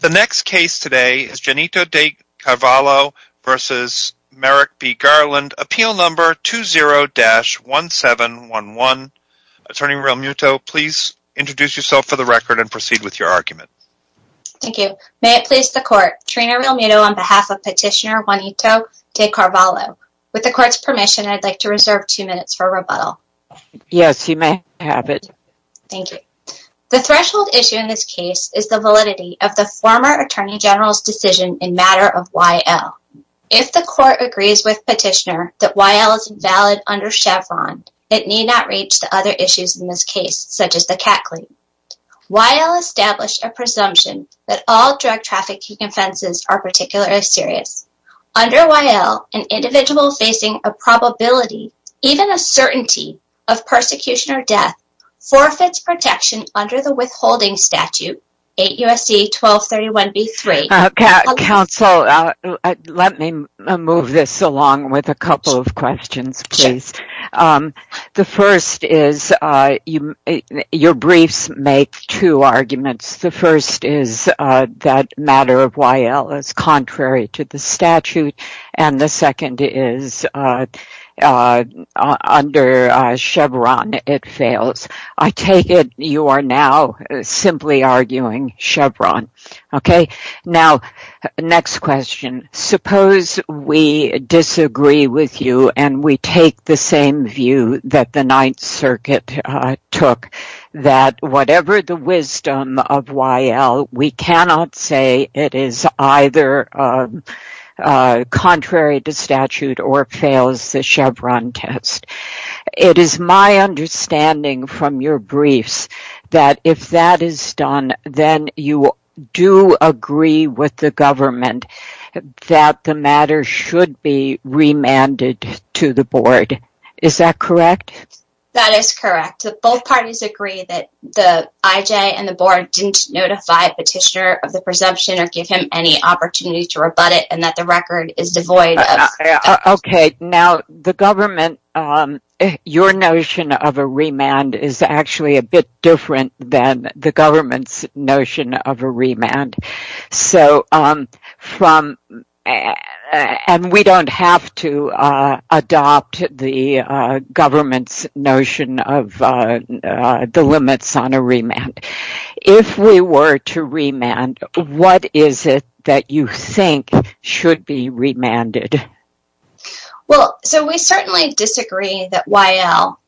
The next case today is Janito de Carvalho v. Merrick B. Garland, Appeal No. 20-1711. Attorney Realmuto, please introduce yourself for the record and proceed with your argument. Thank you. May it please the Court, Trina Realmuto on behalf of Petitioner Juanito de Carvalho. With the Court's permission, I'd like to reserve two minutes for rebuttal. Yes, you may have it. Thank you. The threshold issue in this case is the validity of the former Attorney General's decision in matter of Y.L. If the Court agrees with Petitioner that Y.L. is invalid under Chevron, it need not reach the other issues in this case, such as the cat clean. Y.L. established a presumption that all drug trafficking offenses are particularly serious. Under Y.L., an individual facing a probability, even a certainty, of persecution or death forfeits protection under the withholding statute 8 U.S.C. 1231b3. Counsel, let me move this along with a couple of questions, please. The first is, your briefs make two arguments. The first is that matter of Y.L. is contrary to the statute, and the second is, under Chevron, it fails. I take it you are now simply arguing Chevron. Now, next question. Suppose we disagree with you and we take the same view that the Ninth Amendment is contrary to statute or fails the Chevron test. It is my understanding from your briefs that if that is done, then you do agree with the government that the matter should be remanded to the Board. Is that correct? That is correct. Both parties agree that the I.J. and the record is devoid of that. Okay. Now, the government, your notion of a remand is actually a bit different than the government's notion of a remand. We don't have to adopt the government's the limits on a remand. If we were to remand, what is it that you think should be remanded? Well, so we certainly disagree that Y.L.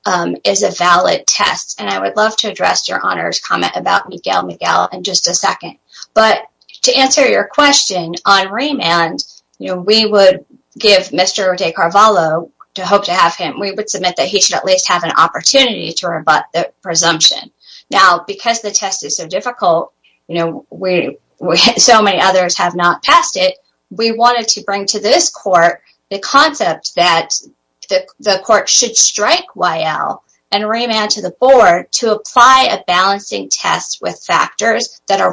is a valid test, and I would love to address your Honor's comment about Miguel Miguel in just a second, but to answer your question on remand, you know, we would give Mr. De Carvalho, to hope to have him, we would submit that he should at opportunity to rebut the presumption. Now, because the test is so difficult, you know, so many others have not passed it, we wanted to bring to this Court the concept that the Court should strike Y.L. and remand to the Board to apply a balancing test with factors that are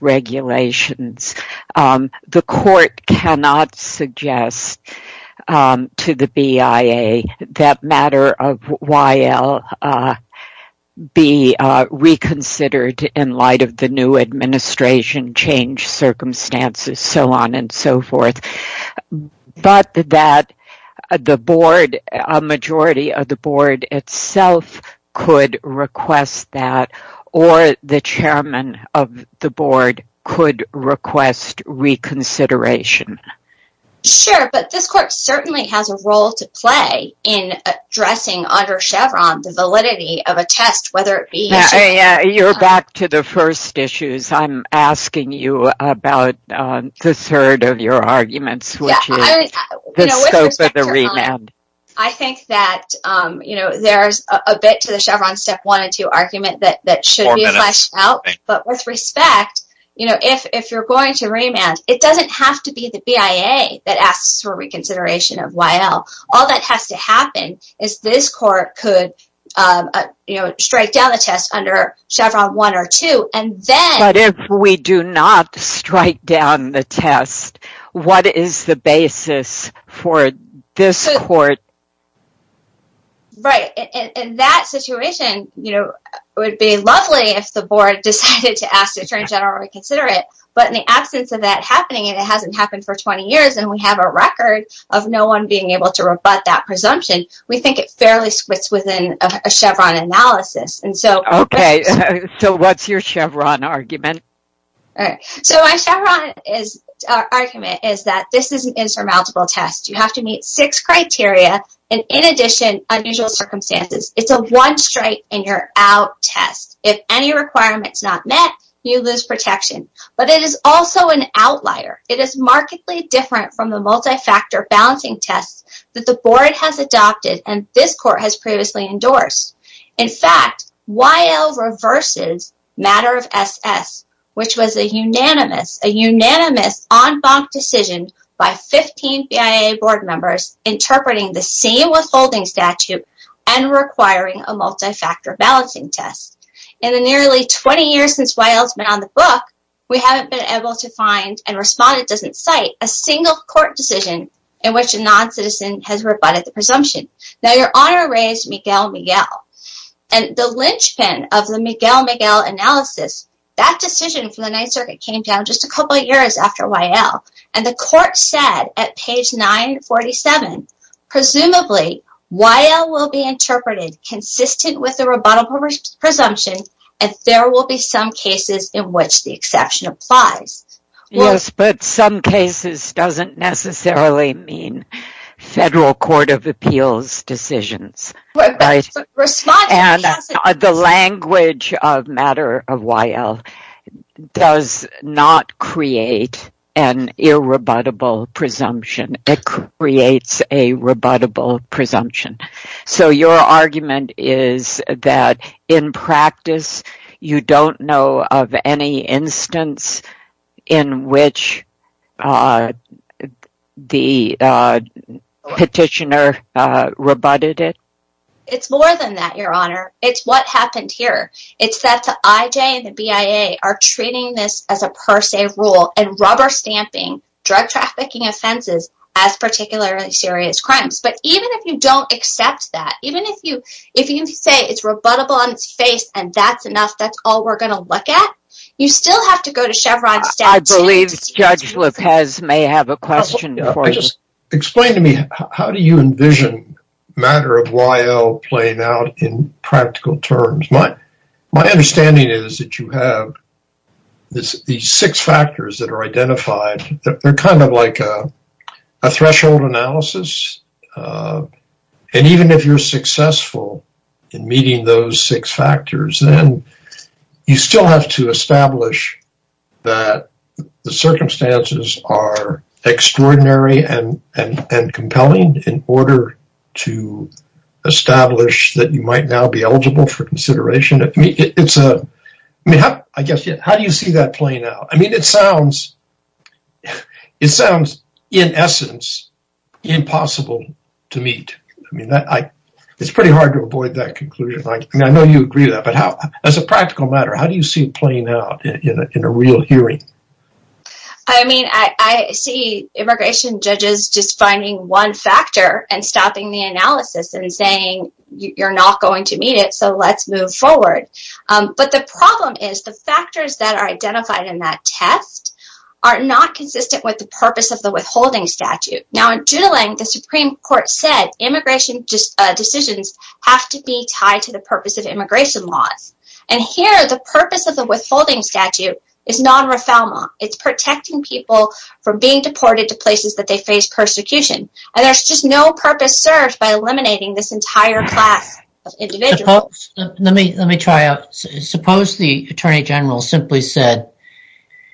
regulations. The Court cannot suggest to the BIA that matter of Y.L. be reconsidered in light of the new administration change circumstances, so on and so forth, but that the Board, a majority of the Board itself, could request that, or the Chairman of the Board could request reconsideration. Sure, but this Court certainly has a role to play in addressing under Chevron the validity of a test, whether it be... Yeah, you're back to the first issues. I'm asking you about the third of your arguments, which is the scope of the remand. I think that, you know, there's a bit to the Chevron Step 1 and 2 argument that should be fleshed out, but with respect, you know, if you're going to remand, it doesn't have to be the BIA that asks for reconsideration of Y.L. All that has to happen is this Court could, you know, strike down the test under Chevron 1 or 2, and then... What is the basis for this Court? Right, in that situation, you know, it would be lovely if the Board decided to ask the Attorney General to reconsider it, but in the absence of that happening, and it hasn't happened for 20 years, and we have a record of no one being able to rebut that presumption, we think it fairly splits within a Chevron analysis, and so... Okay, so what's your argument? All right, so my Chevron argument is that this is an insurmountable test. You have to meet six criteria, and in addition, unusual circumstances. It's a one-strike-and-you're-out test. If any requirement is not met, you lose protection, but it is also an outlier. It is markedly different from the multi-factor balancing tests that the Board has adopted and this Court has previously endorsed. In fact, YL reverses matter of SS, which was a unanimous, a unanimous en banc decision by 15 BIA Board members interpreting the same withholding statute and requiring a multi-factor balancing test. In the nearly 20 years since YL's been on the Book, we haven't been able to find, and Respondent doesn't cite, a single Court decision in which a non-citizen has rebutted the presumption. Now, Your Honor raised Miguel-Miguel, and the linchpin of the Miguel-Miguel analysis, that decision for the Ninth Circuit came down just a couple years after YL, and the Court said at page 947, presumably, YL will be interpreted consistent with the rebuttal presumption if there will be some cases in which the exception applies. Yes, but some cases doesn't necessarily mean Federal Court of Appeals decisions, and the language of matter of YL does not create an irrebuttable presumption. It creates a rebuttable in which the petitioner rebutted it. It's more than that, Your Honor. It's what happened here. It's that the IJ and the BIA are treating this as a per se rule and rubber stamping drug trafficking offenses as particularly serious crimes. But even if you don't accept that, even if you say it's rebuttable on its face and that's enough, that's all we're going to look at, you still have to go to Chevron. I believe Judge Lopez may have a question for you. Explain to me, how do you envision matter of YL playing out in practical terms? My understanding is that you have these six factors that are identified. They're kind of like a threshold analysis, and even if you're successful in meeting those six factors, then you still have to establish that the circumstances are extraordinary and compelling in order to establish that you might now be eligible for consideration. How do you see that playing out? It sounds in essence impossible to meet. It's pretty hard to avoid that conclusion. I know you agree with that, but as a practical matter, how do you see playing out in a real hearing? I see immigration judges just finding one factor and stopping the analysis and saying you're not going to meet it, so let's move forward. But the problem is the factors that are identified in that test are not consistent with the purpose of the withholding statute. Now in doodling, the Supreme Court said immigration decisions have to be tied to the purpose of immigration laws, and here the purpose of the withholding statute is non-refoulement. It's protecting people from being deported to places that they face persecution, and there's just no purpose served by eliminating this entire class. Suppose the Attorney General simply said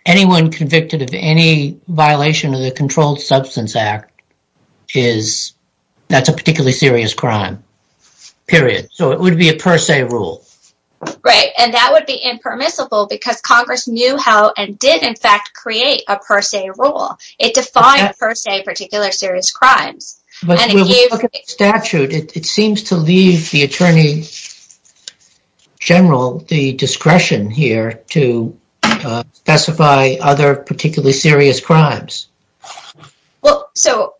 anyone convicted of any violation of the crime would be a per se rule. That would be impermissible because Congress knew how and did in fact create a per se rule. It defined per se particular serious crimes. It seems to leave the Attorney General the discretion here to specify other particularly crimes. Well, so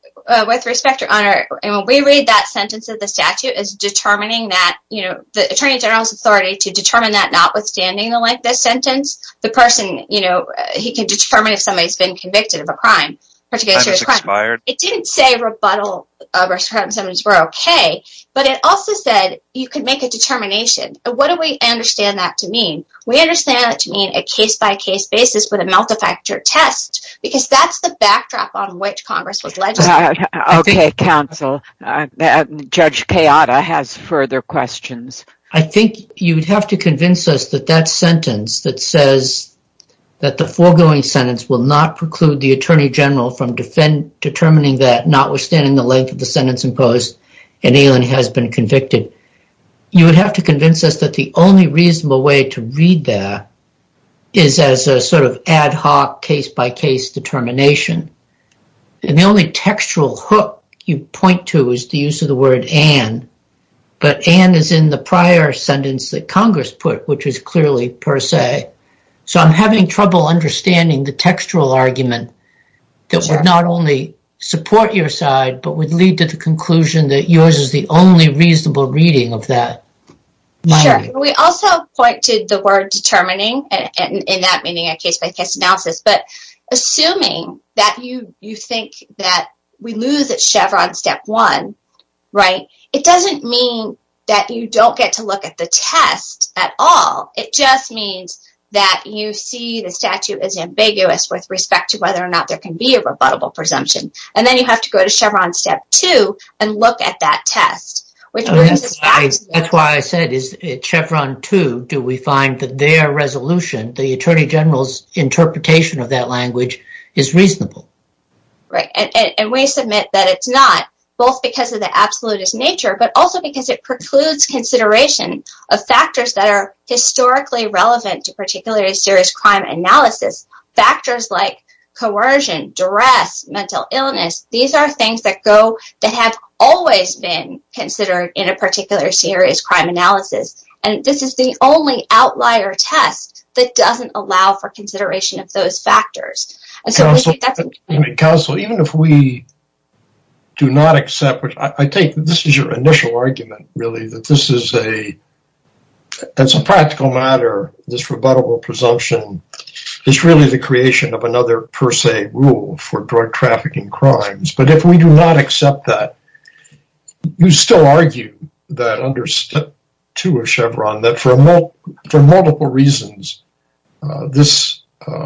with respect, your honor, and when we read that sentence of the statute is determining that, you know, the Attorney General's authority to determine that notwithstanding the length of this sentence, the person, you know, he can determine if somebody's been convicted of a crime. It didn't say rebuttal restrictions were okay, but it also said you could make a determination. What do we understand that to mean? We understand it to mean a case-by-case basis with multi-factor test because that's the backdrop on which Congress was legislating. Okay, counsel, Judge Kayada has further questions. I think you'd have to convince us that that sentence that says that the foregoing sentence will not preclude the Attorney General from determining that notwithstanding the length of the sentence imposed, an alien has been convicted. You would have to convince us that the only reasonable way to read that is as a sort of ad hoc case-by-case determination, and the only textual hook you point to is the use of the word an, but an is in the prior sentence that Congress put, which is clearly per se, so I'm having trouble understanding the textual argument that would not only support your side but would lead to the conclusion that yours is the only reasonable reading of that. Sure, we also pointed the word determining and in that meaning a case-by-case analysis, but assuming that you think that we lose at Chevron step one, right, it doesn't mean that you don't get to look at the test at all. It just means that you see the statute as ambiguous with respect to whether or not there can be a rebuttable presumption, and then you have to go to Chevron step two and look at that test. That's why I said is at Chevron two do we find that their resolution, the Attorney General's interpretation of that language, is reasonable. Right, and we submit that it's not, both because of the absolutist nature but also because it precludes consideration of factors that are historically relevant to particularly serious crime analysis, factors like coercion, duress, mental illness. These are things that have always been considered in a particular serious crime analysis, and this is the only outlier test that doesn't allow for consideration of those factors. Counsel, even if we do not accept, I think this is your initial argument, really, that this is a creation of another per se rule for drug trafficking crimes, but if we do not accept that, you still argue that under step two of Chevron, that for multiple reasons, this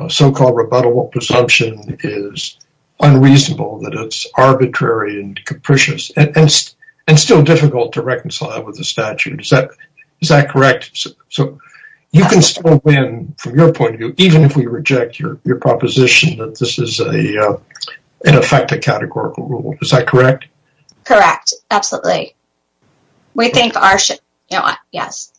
so-called rebuttable presumption is unreasonable, that it's arbitrary and capricious, and still difficult to reconcile with the statute. Is that correct? So you can still win from your point of view, even if we reject your proposition that this is, in effect, a categorical rule. Is that correct? Correct, absolutely. We think ours should, you know what, yes.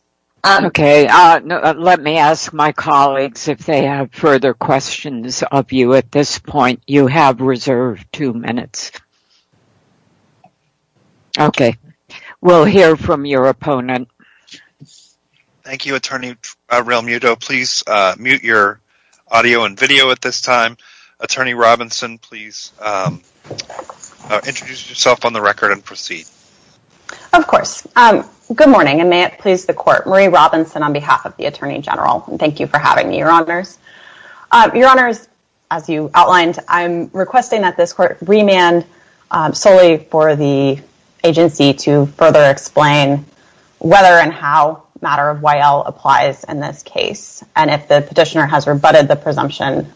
Okay, let me ask my colleagues if they have further questions of you at this point. You have reserved two minutes. Okay, we'll hear from your opponent. Thank you, Attorney Realmuto. Please mute your audio and video at this time. Attorney Robinson, please introduce yourself on the record and proceed. Of course. Good morning, and may it please the court. Marie Robinson on behalf of the Attorney General, and thank you for having me, Your Honors. Your Honors, as you outlined, I'm requesting that the agency to further explain whether and how matter of Y.L. applies in this case, and if the petitioner has rebutted the presumption,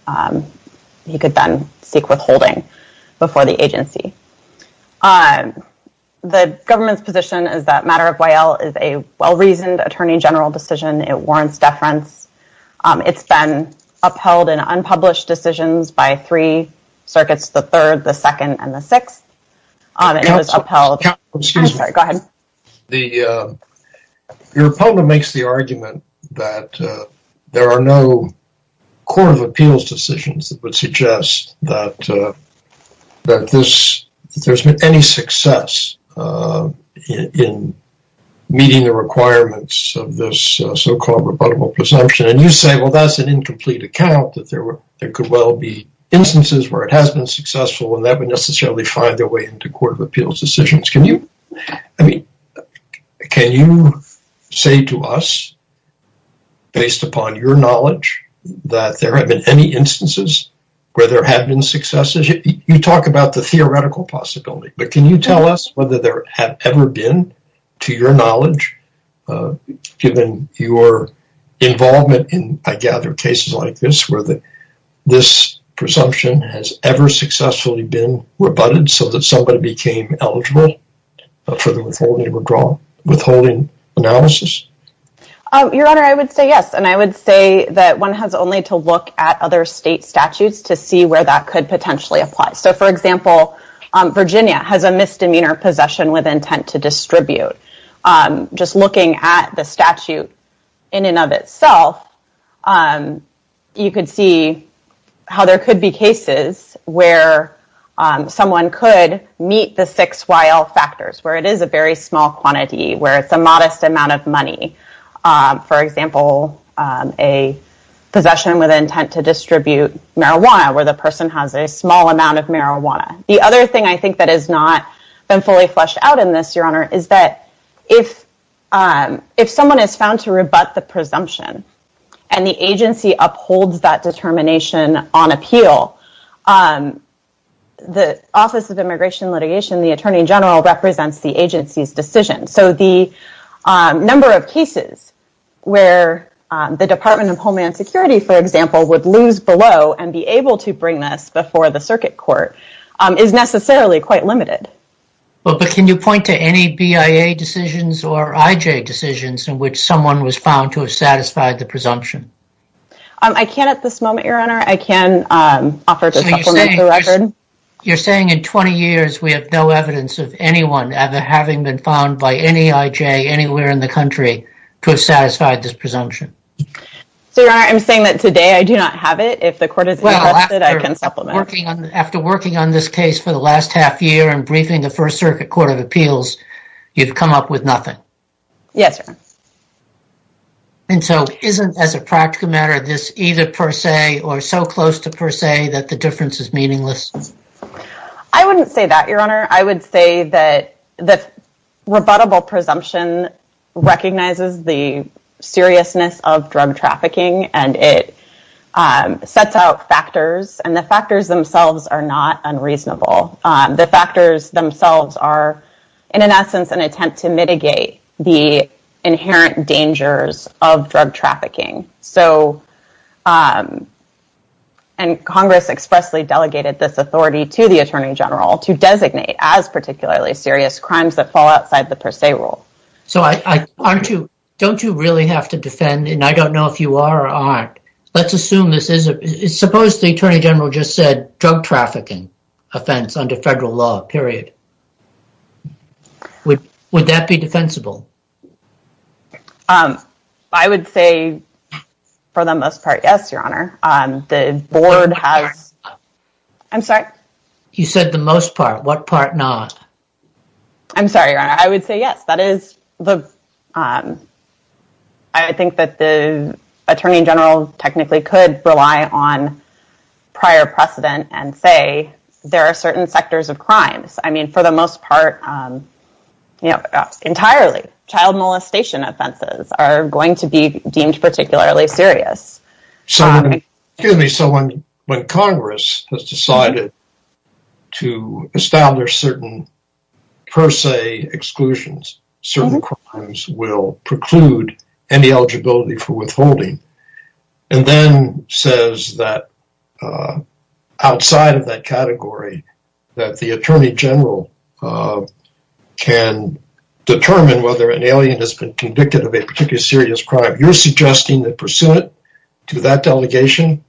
he could then seek withholding before the agency. The government's position is that matter of Y.L. is a well-reasoned Attorney General decision. It warrants deference. It's been upheld in unpublished decisions by three circuits, the third, the second, and the sixth, and it was upheld. Excuse me. I'm sorry. Go ahead. Your opponent makes the argument that there are no court of appeals decisions that would suggest that there's been any success in meeting the requirements of this so-called rebuttable presumption, and you say, well, that's an incomplete account, that there could well be successful, and that would necessarily find their way into court of appeals decisions. Can you say to us, based upon your knowledge, that there have been any instances where there have been successes? You talk about the theoretical possibility, but can you tell us whether there have ever been, to your knowledge, given your involvement in, I gather, cases like where this presumption has ever successfully been rebutted so that somebody became eligible for the withholding analysis? Your Honor, I would say yes, and I would say that one has only to look at other state statutes to see where that could potentially apply. So, for example, Virginia has a misdemeanor possession with intent to distribute. Just looking at the statute in and of itself, you could see how there could be cases where someone could meet the six YL factors, where it is a very small quantity, where it's a modest amount of money. For example, a possession with intent to distribute marijuana, where the person has a small amount of marijuana. The other thing I think that has not been fully fleshed out in this, Your Honor, is that if someone is found to rebut the presumption and the agency upholds that determination on appeal, the Office of Immigration Litigation, the Attorney General, represents the agency's decision. So, the number of cases where the Department of Homeland Security, for example, would lose below and be able to bring this before the circuit court is necessarily quite limited. But can you point to any BIA decisions or IJ decisions in which someone was found to have satisfied the presumption? I can't at this moment, Your Honor. I can offer to supplement the record. You're saying in 20 years we have no evidence of anyone ever having been found by any IJ anywhere in the country to have satisfied this presumption? So, Your Honor, I'm saying that today I do not have it. If the court is interested, I can supplement. Well, after working on this case for the last half year and briefing the circuit court of appeals, you've come up with nothing? Yes, Your Honor. And so, isn't, as a practical matter, this either per se or so close to per se that the difference is meaningless? I wouldn't say that, Your Honor. I would say that the rebuttable presumption recognizes the seriousness of drug trafficking and it sets out factors and the factors themselves are not unreasonable. The factors themselves are, in an essence, an attempt to mitigate the inherent dangers of drug trafficking. So, and Congress expressly delegated this authority to the Attorney General to designate as particularly serious crimes that fall outside the per se rule. So, don't you really have to defend, and I don't know if you are or aren't, let's assume this is, suppose the Attorney General just said drug trafficking offense under federal law, period. Would that be defensible? I would say, for the most part, yes, Your Honor. The board has, I'm sorry? You said the most part. What part not? I'm sorry, Your Honor. I would say yes. That is the, I think that the Attorney General technically could rely on prior precedent and say there are certain sectors of crimes. I mean, for the most part, you know, entirely. Child molestation offenses are going to be deemed particularly serious. So, excuse me, so when Congress has preclude any eligibility for withholding and then says that outside of that category that the Attorney General can determine whether an alien has been convicted of a particular serious crime, you're suggesting that pursuant to that delegation,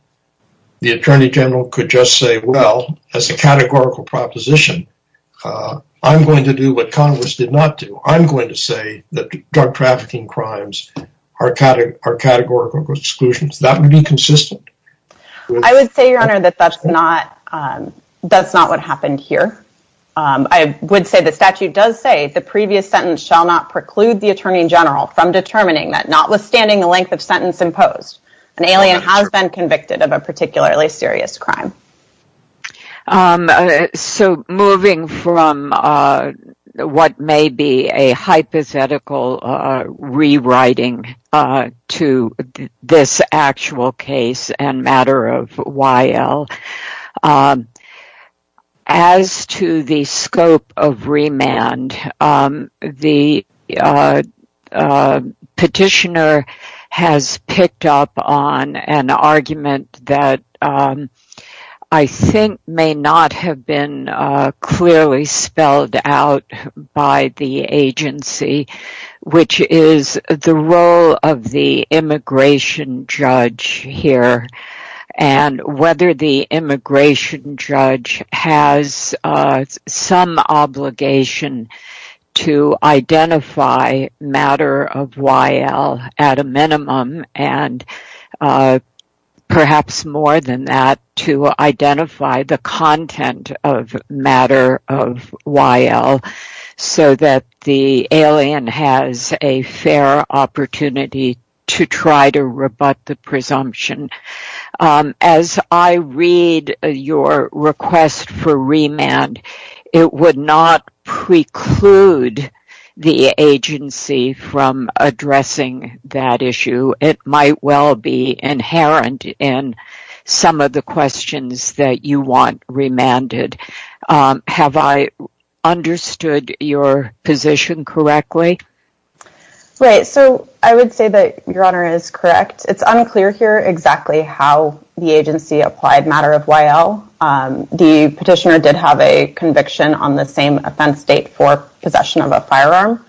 the Attorney General could just say, well, as a categorical proposition, I'm going to do what Congress did not do. I'm going to say that drug trafficking crimes are categorical exclusions. That would be consistent. I would say, Your Honor, that that's not what happened here. I would say the statute does say the previous sentence shall not preclude the Attorney General from determining that not withstanding the length of sentence imposed, an alien has been convicted of a particularly serious crime. So, moving from what may be a hypothetical rewriting to this actual case and matter of I think may not have been clearly spelled out by the agency, which is the role of the immigration judge here and whether the immigration judge has some obligation to identify matter of Y.L. at a minimum and perhaps more than that, to identify the content of matter of Y.L. so that the alien has a fair opportunity to try to rebut the presumption. As I read your request for remand, it would not preclude the agency from addressing that issue. It might well be inherent in some of the questions that you want remanded. Have I understood your position correctly? Right. So, I would say that, Your Honor, is correct. It's unclear here exactly how the agency applied matter of Y.L. The petitioner did have a conviction on the same offense date for possession of a firearm.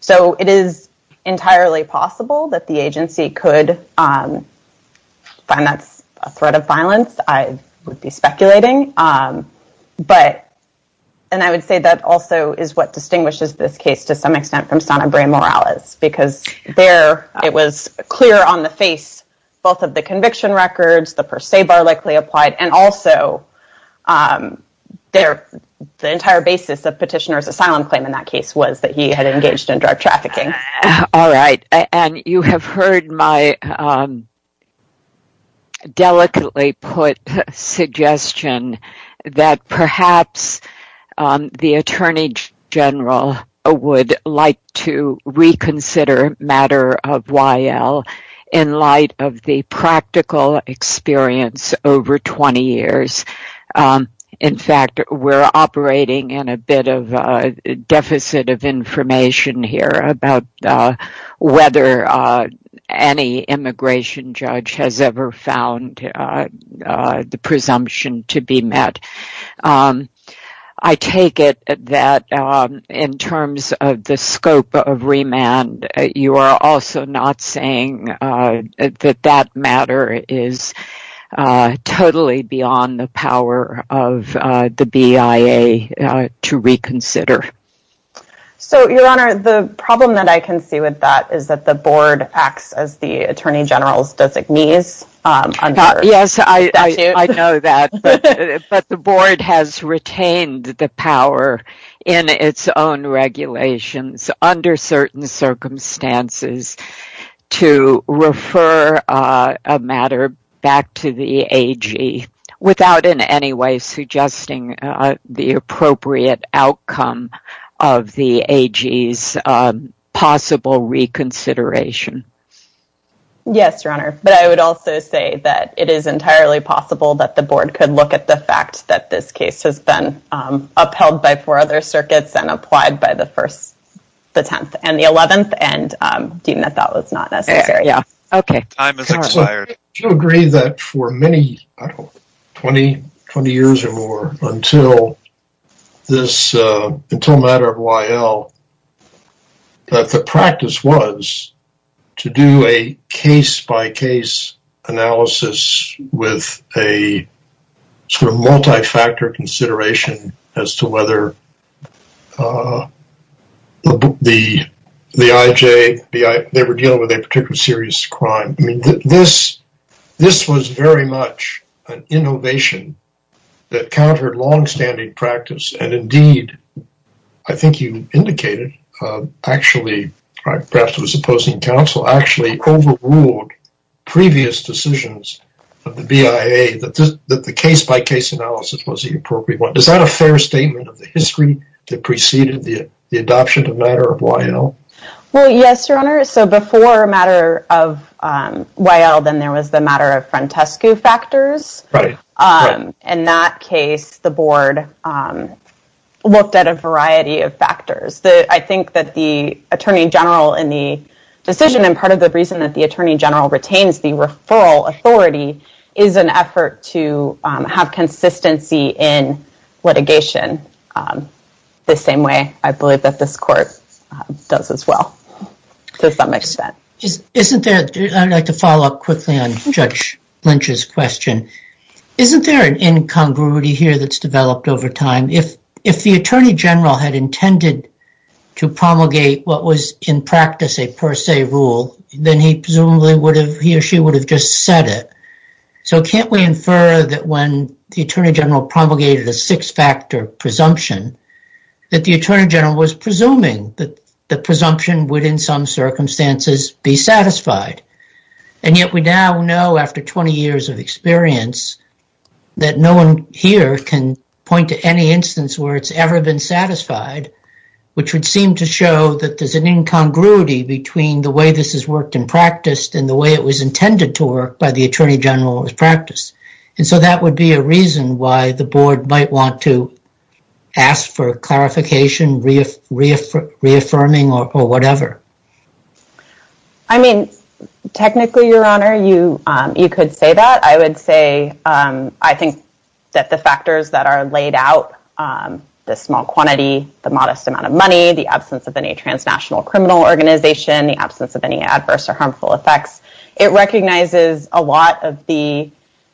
So, it is entirely possible that the agency could find that's a threat of violence. I would be speculating. But, and I would say that also is what distinguishes this case to some extent from on the face both of the conviction records, the per se bar likely applied, and also the entire basis of petitioner's asylum claim in that case was that he had engaged in drug trafficking. All right, and you have heard my delicately put suggestion that perhaps the Attorney General would like to reconsider matter of Y.L. in light of the practical experience over 20 years. In fact, we're operating in a bit of a deficit of information here about whether any immigration judge has ever found the presumption to be met. I take it that in terms of the scope of remand, you are also not saying that that matter is totally beyond the power of the BIA to reconsider. So, Your Honor, the problem that I can see with that is that the board acts as the Attorney General's designees. Yes, I know that, but the board has retained the power in its own regulations under certain circumstances to refer a matter back to the AG without in any way suggesting the appropriate outcome of the AG's possible reconsideration. Yes, Your Honor, but I would also say that it is entirely possible that the board could look at the fact that this case has been upheld by four other circuits and applied by the first, the tenth, and the eleventh, and deem that that was not necessary. Yeah, okay. Do you agree that for many, I don't know, 20 years or more until this, until matter of Y.L., that the practice was to do a case-by-case analysis with a sort of multi-factor consideration as to whether the IJ, they were dealing with a particular serious crime. I mean, this was very much an innovation that countered long-standing practice, and indeed, I think you indicated, actually, perhaps it was opposing counsel, actually overruled previous decisions of the BIA that the case-by-case analysis was the appropriate one. Is that a fair statement of the history that preceded the adoption of matter of Y.L.? Well, yes, Your Honor. So, before matter of Y.L., then there was the matter of Frantescu factors. Right, right. In that case, the board looked at a variety of factors. I think that the attorney general in the decision, and part of the reason that the attorney general retains the referral authority is an effort to have consistency in litigation the same way I believe that this court does as well, to some extent. Isn't there, I'd like to follow up quickly on Judge Lynch's question, isn't there an incongruity here that's developed over time? If the attorney general had intended to promulgate what was in practice a per se rule, then he presumably would have, he or she would have just said it. So, can't we infer that when the attorney general promulgated a six-factor presumption, that the attorney general was presuming that the presumption would in some circumstances be satisfied? And yet we now know after 20 years of experience that no one here can point to any instance where it's ever been satisfied, which would seem to show that there's an incongruity between the way this has worked in practice and the way it was intended to work by the attorney general in practice. And so that would be a reason why the board might want to ask for clarification, reaffirming, or whatever. I mean, technically, Your Honor, you could say that. I would say, I think that the factors that are laid out, the small quantity, the modest amount of money, the absence of any transnational criminal organization, the absence of any adverse or harmful effects, it recognizes a lot of the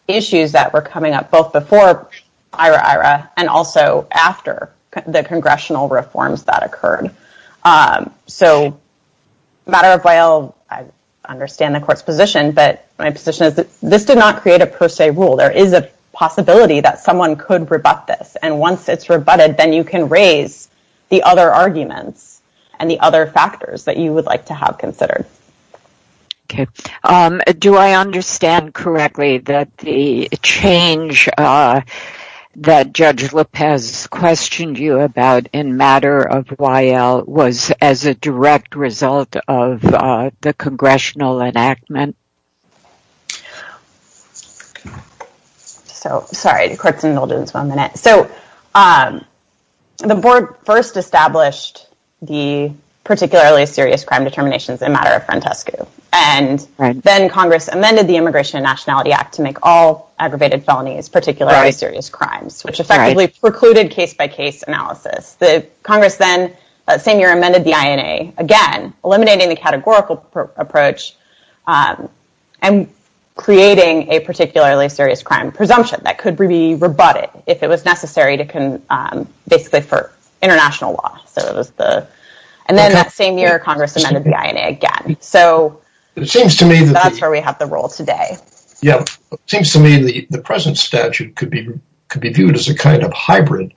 issues that were coming up both before IRA-IRA and also after the congressional reforms that occurred. So, matter of while, I understand the court's position, but my position is that this did not create a per se rule. There is a possibility that someone could rebut this. And once it's rebutted, then you can raise the other arguments and the factors that you would like to have considered. Okay. Do I understand correctly that the change that Judge Lopez questioned you about in matter of while was as a direct result of the congressional enactment? Okay. So, sorry. The court's indulged in this one minute. So, the board first established the particularly serious crime determinations in matter of Frantescu, and then Congress amended the Immigration and Nationality Act to make all aggravated felonies particularly serious crimes, which effectively precluded case-by-case analysis. The Congress then, that same year, again, eliminating the categorical approach and creating a particularly serious crime presumption that could be rebutted if it was necessary basically for international law. And then, that same year, Congress amended the INA again. So, that's where we have the role today. Yeah. It seems to me the present statute could be viewed as a kind of hybrid,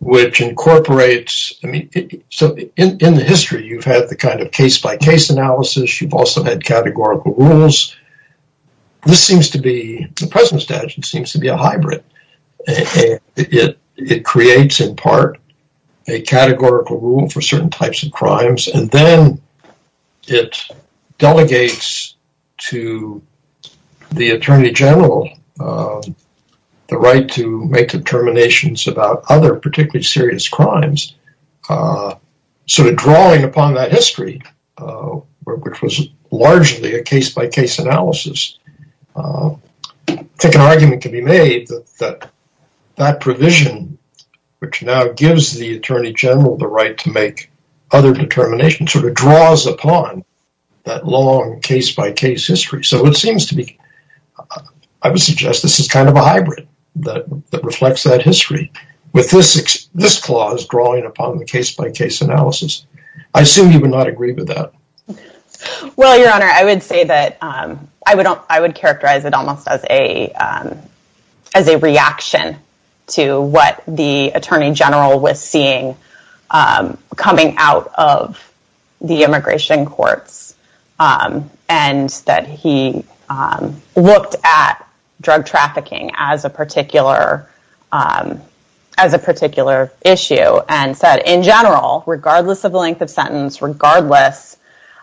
which incorporates. So, in the history, you've had the kind of case-by-case analysis. You've also had categorical rules. This seems to be, the present statute seems to be a hybrid. It creates, in part, a categorical rule for certain types of crimes. And then, it delegates to the Attorney General the right to make determinations about other particularly serious crimes, sort of drawing upon that history, which was largely a case-by-case analysis. I think an argument can be made that that provision, which now gives the Attorney General the right to make other determinations, sort of draws upon that long case-by-case history. So, it seems to be, I would suggest this is kind of a hybrid that reflects that history, with this clause drawing upon the case-by-case analysis. I assume you would not agree with that. Well, Your Honor, I would say that I would characterize it almost as a reaction to what the Attorney General was seeing coming out of the immigration courts, and that he looked at drug trafficking as a particular issue and said, in general, regardless of the length of sentence, regardless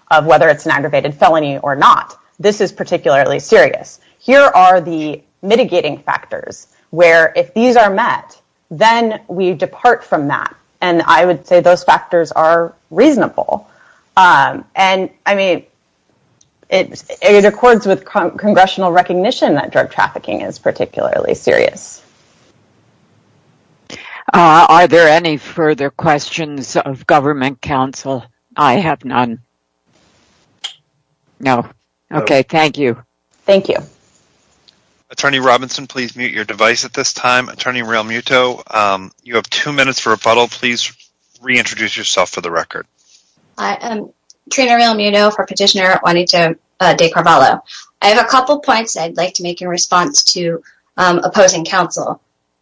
of whether it's an aggravated felony or not, this is particularly serious. Here are the mitigating factors, where if these are met, then we depart from that. And I would say those factors are reasonable. And, I mean, it accords with congressional recognition that drug trafficking is particularly serious. Are there any further questions of Government counsel? I have none. No. Okay, thank you. Thank you. Attorney Robinson, please mute your device at this time. Attorney Realmuto, you have two minutes for rebuttal. Please reintroduce yourself for the record. I am Trina Realmuto for Petitioner Juanita de Carvalho. I have a couple points I'd like to make in response to opposing counsel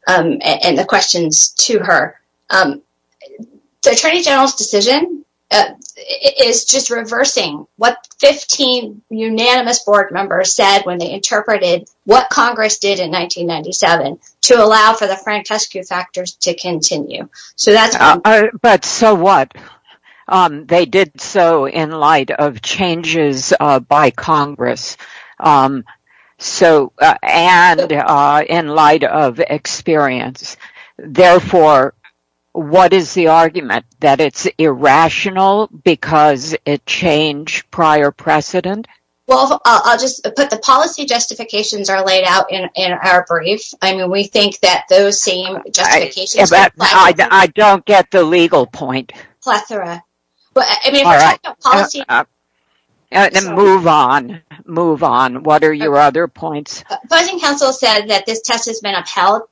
and the questions to her. The Attorney General's decision is just reversing what 15 unanimous board members said when they interpreted what Congress did in 1997 to allow for the Frank Teskew factors to continue. But so what? They did so in light of changes by Congress and in light of experience. Therefore, what is the argument? That it's irrational because it changed prior precedent? Well, I'll just put the policy justifications are laid out in our brief. I mean, we think that those same justifications... I don't get the legal point. Plethora. But, I mean, if we're talking about policy... And move on, move on. What are your other points? Opposing counsel said that this test has been upheld.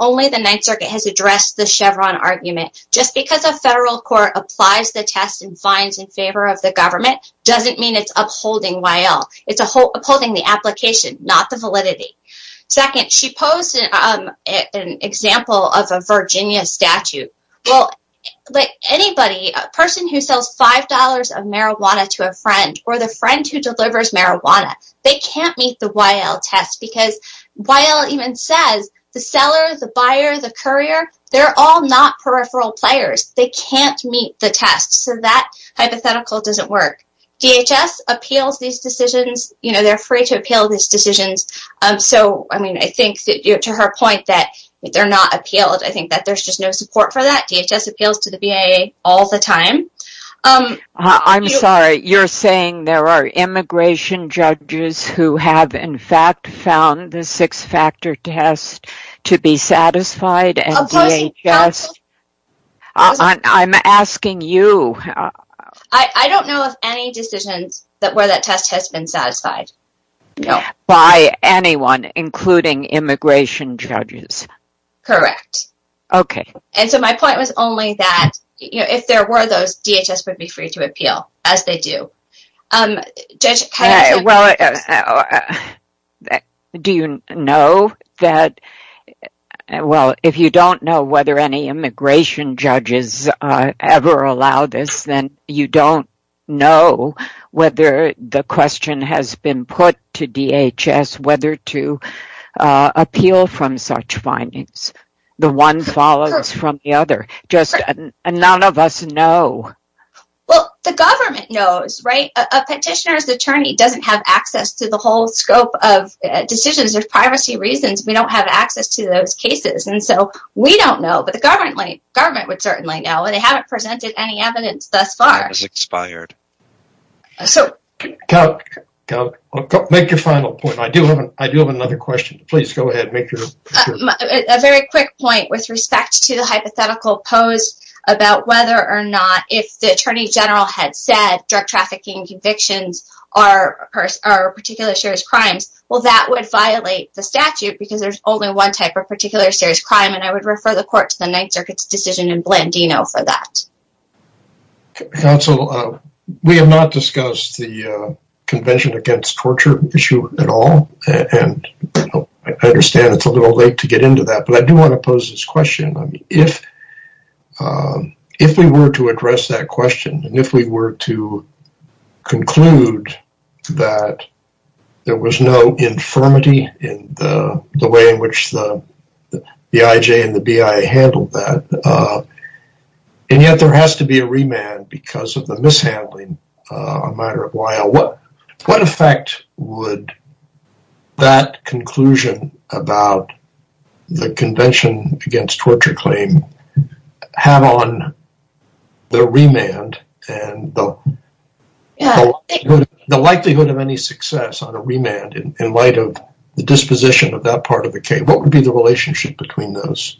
Only the Ninth Circuit has addressed the Chevron argument. Just because a federal court applies the test and finds in favor of the government doesn't mean it's upholding Y.L. It's upholding the application, not the validity. Second, she posed an example of a Virginia statute. Well, like anybody, a person who sells five dollars of marijuana to a friend or the friend who delivers the buyer, the courier, they're all not peripheral players. They can't meet the test. So that hypothetical doesn't work. DHS appeals these decisions. You know, they're free to appeal these decisions. So, I mean, I think to her point that they're not appealed. I think that there's just no support for that. DHS appeals to the BIA all the time. I'm sorry, you're saying there are satisfied? Opposing counsel... I'm asking you. I don't know of any decisions where that test has been satisfied. By anyone, including immigration judges? Correct. Okay. And so my point was only that, you know, if there were those, DHS would be free to appeal, as they do. Well, uh, do you know that, well, if you don't know whether any immigration judges ever allow this, then you don't know whether the question has been put to DHS whether to appeal from such findings. The one follows from the other. Just none of us know. Well, the government knows, right? A to the whole scope of decisions. There's privacy reasons. We don't have access to those cases. And so we don't know. But the government would certainly know. And they haven't presented any evidence thus far. It's expired. So make your final point. I do have another question. Please go ahead. Make your... A very quick point with respect to the hypothetical posed about whether or not if the Attorney General had said drug trafficking convictions are particular serious crimes, well, that would violate the statute, because there's only one type of particular serious crime. And I would refer the court to the Ninth Circuit's decision in Blandino for that. Counsel, we have not discussed the Convention Against Torture issue at all. And I understand it's a little late to get into that. But I do want to pose this question. If we were to address that question, and if we were to conclude that there was no infirmity in the way in which the BIJ and the BI handled that, and yet there has to be a remand because of the mishandling a matter of a while, what effect would that conclusion about the Convention Against Torture claim have on the remand and the likelihood of any success on a remand in light of the disposition of that part of the case? What would be the relationship between those?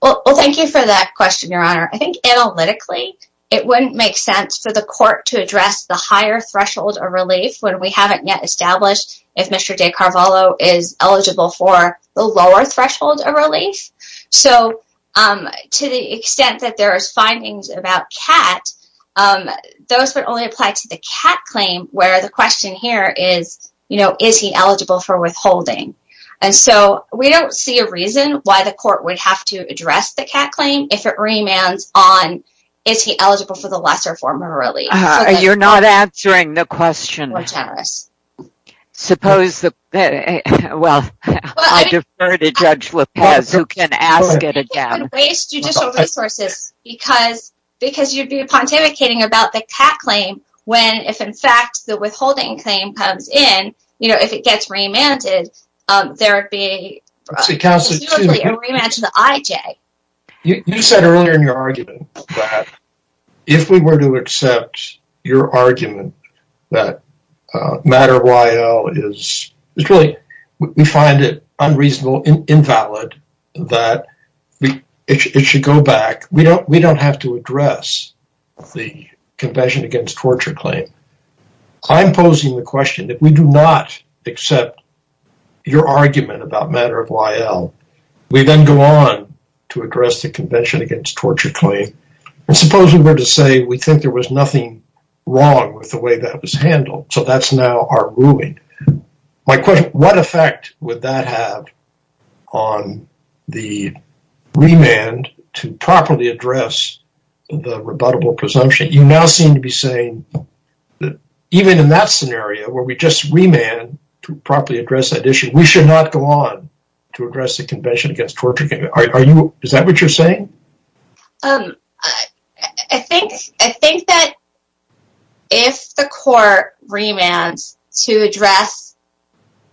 Well, thank you for that question, Your Honor. I think analytically, it wouldn't make sense for the court to address the higher threshold of relief when we haven't yet established if Mr. DeCarvallo is eligible for the lower threshold of relief. So, to the extent that there are findings about Kat, those would only apply to the Kat claim where the question here is, you know, is he eligible for withholding? And so, we don't see a reason why the court would have to address the Kat claim if it remands on is he eligible for the lesser form of relief? You're not answering the question. Suppose that, well, I defer to Judge Lopez who can ask it again. I think it would waste judicial resources because you'd be pontificating about the Kat claim when if in fact the withholding claim comes in, you know, if it gets remanded, there would be a remand to the IJ. You said earlier in your argument that if we were to accept your argument that Matter of Y.L. is really, we find it unreasonable, invalid, that it should go back. We don't have to address the Convention Against Torture claim. I'm posing the question that we do not accept your argument about Matter of Y.L. We then go on to address the Convention Against Torture claim. And suppose we were to say we think there was nothing wrong with the way that was handled. So, that's now our ruling. My question, what effect would that have on the remand to properly address the rebuttable presumption? You now seem to be saying that even in that scenario where we just remand to properly address that issue, we should not go on to address the Convention Against Torture. Is that what you're saying? I think that if the court remands to address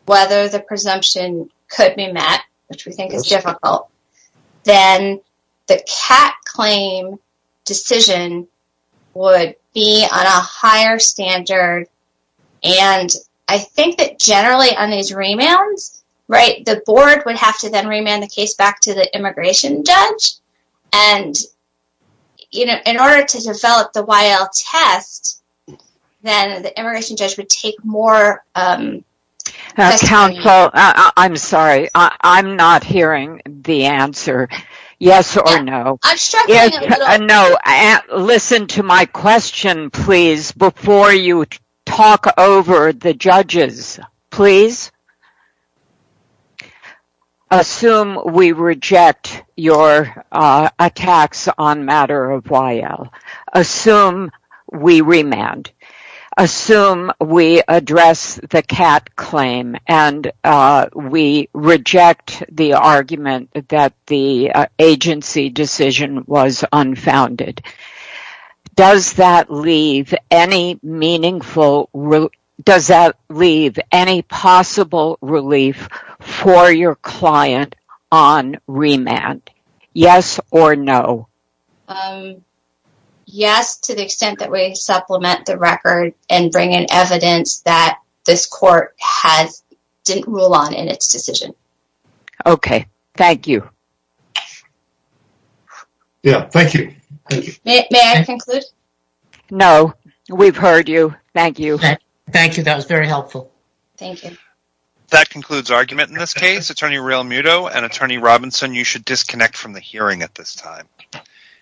whether the presumption could be met, which we think is difficult, then the Kat claim decision would be on a higher standard. And I think that generally on these remands, the board would have to then remand the case back to the immigration judge. And, you know, in order to develop the Y.L. test, then the immigration judge would take more... Counsel, I'm sorry, I'm not hearing the answer. Yes or no? I'm struggling a little. No, listen to my question, please, before you talk over the judges, please. Assume we reject your attacks on matter of Y.L. Assume we remand. Assume we address the Kat claim and we reject the argument that the agency decision was unfounded. Does that leave any possible relief for your client on remand? Yes or no? Um, yes, to the extent that we supplement the record and bring in evidence that this court didn't rule on in its decision. Okay, thank you. Yeah, thank you. May I conclude? No, we've heard you. Thank you. Thank you, that was very helpful. Thank you. That concludes argument in this case. Attorney Real Muto and Attorney Robinson, you should disconnect from the hearing at this time.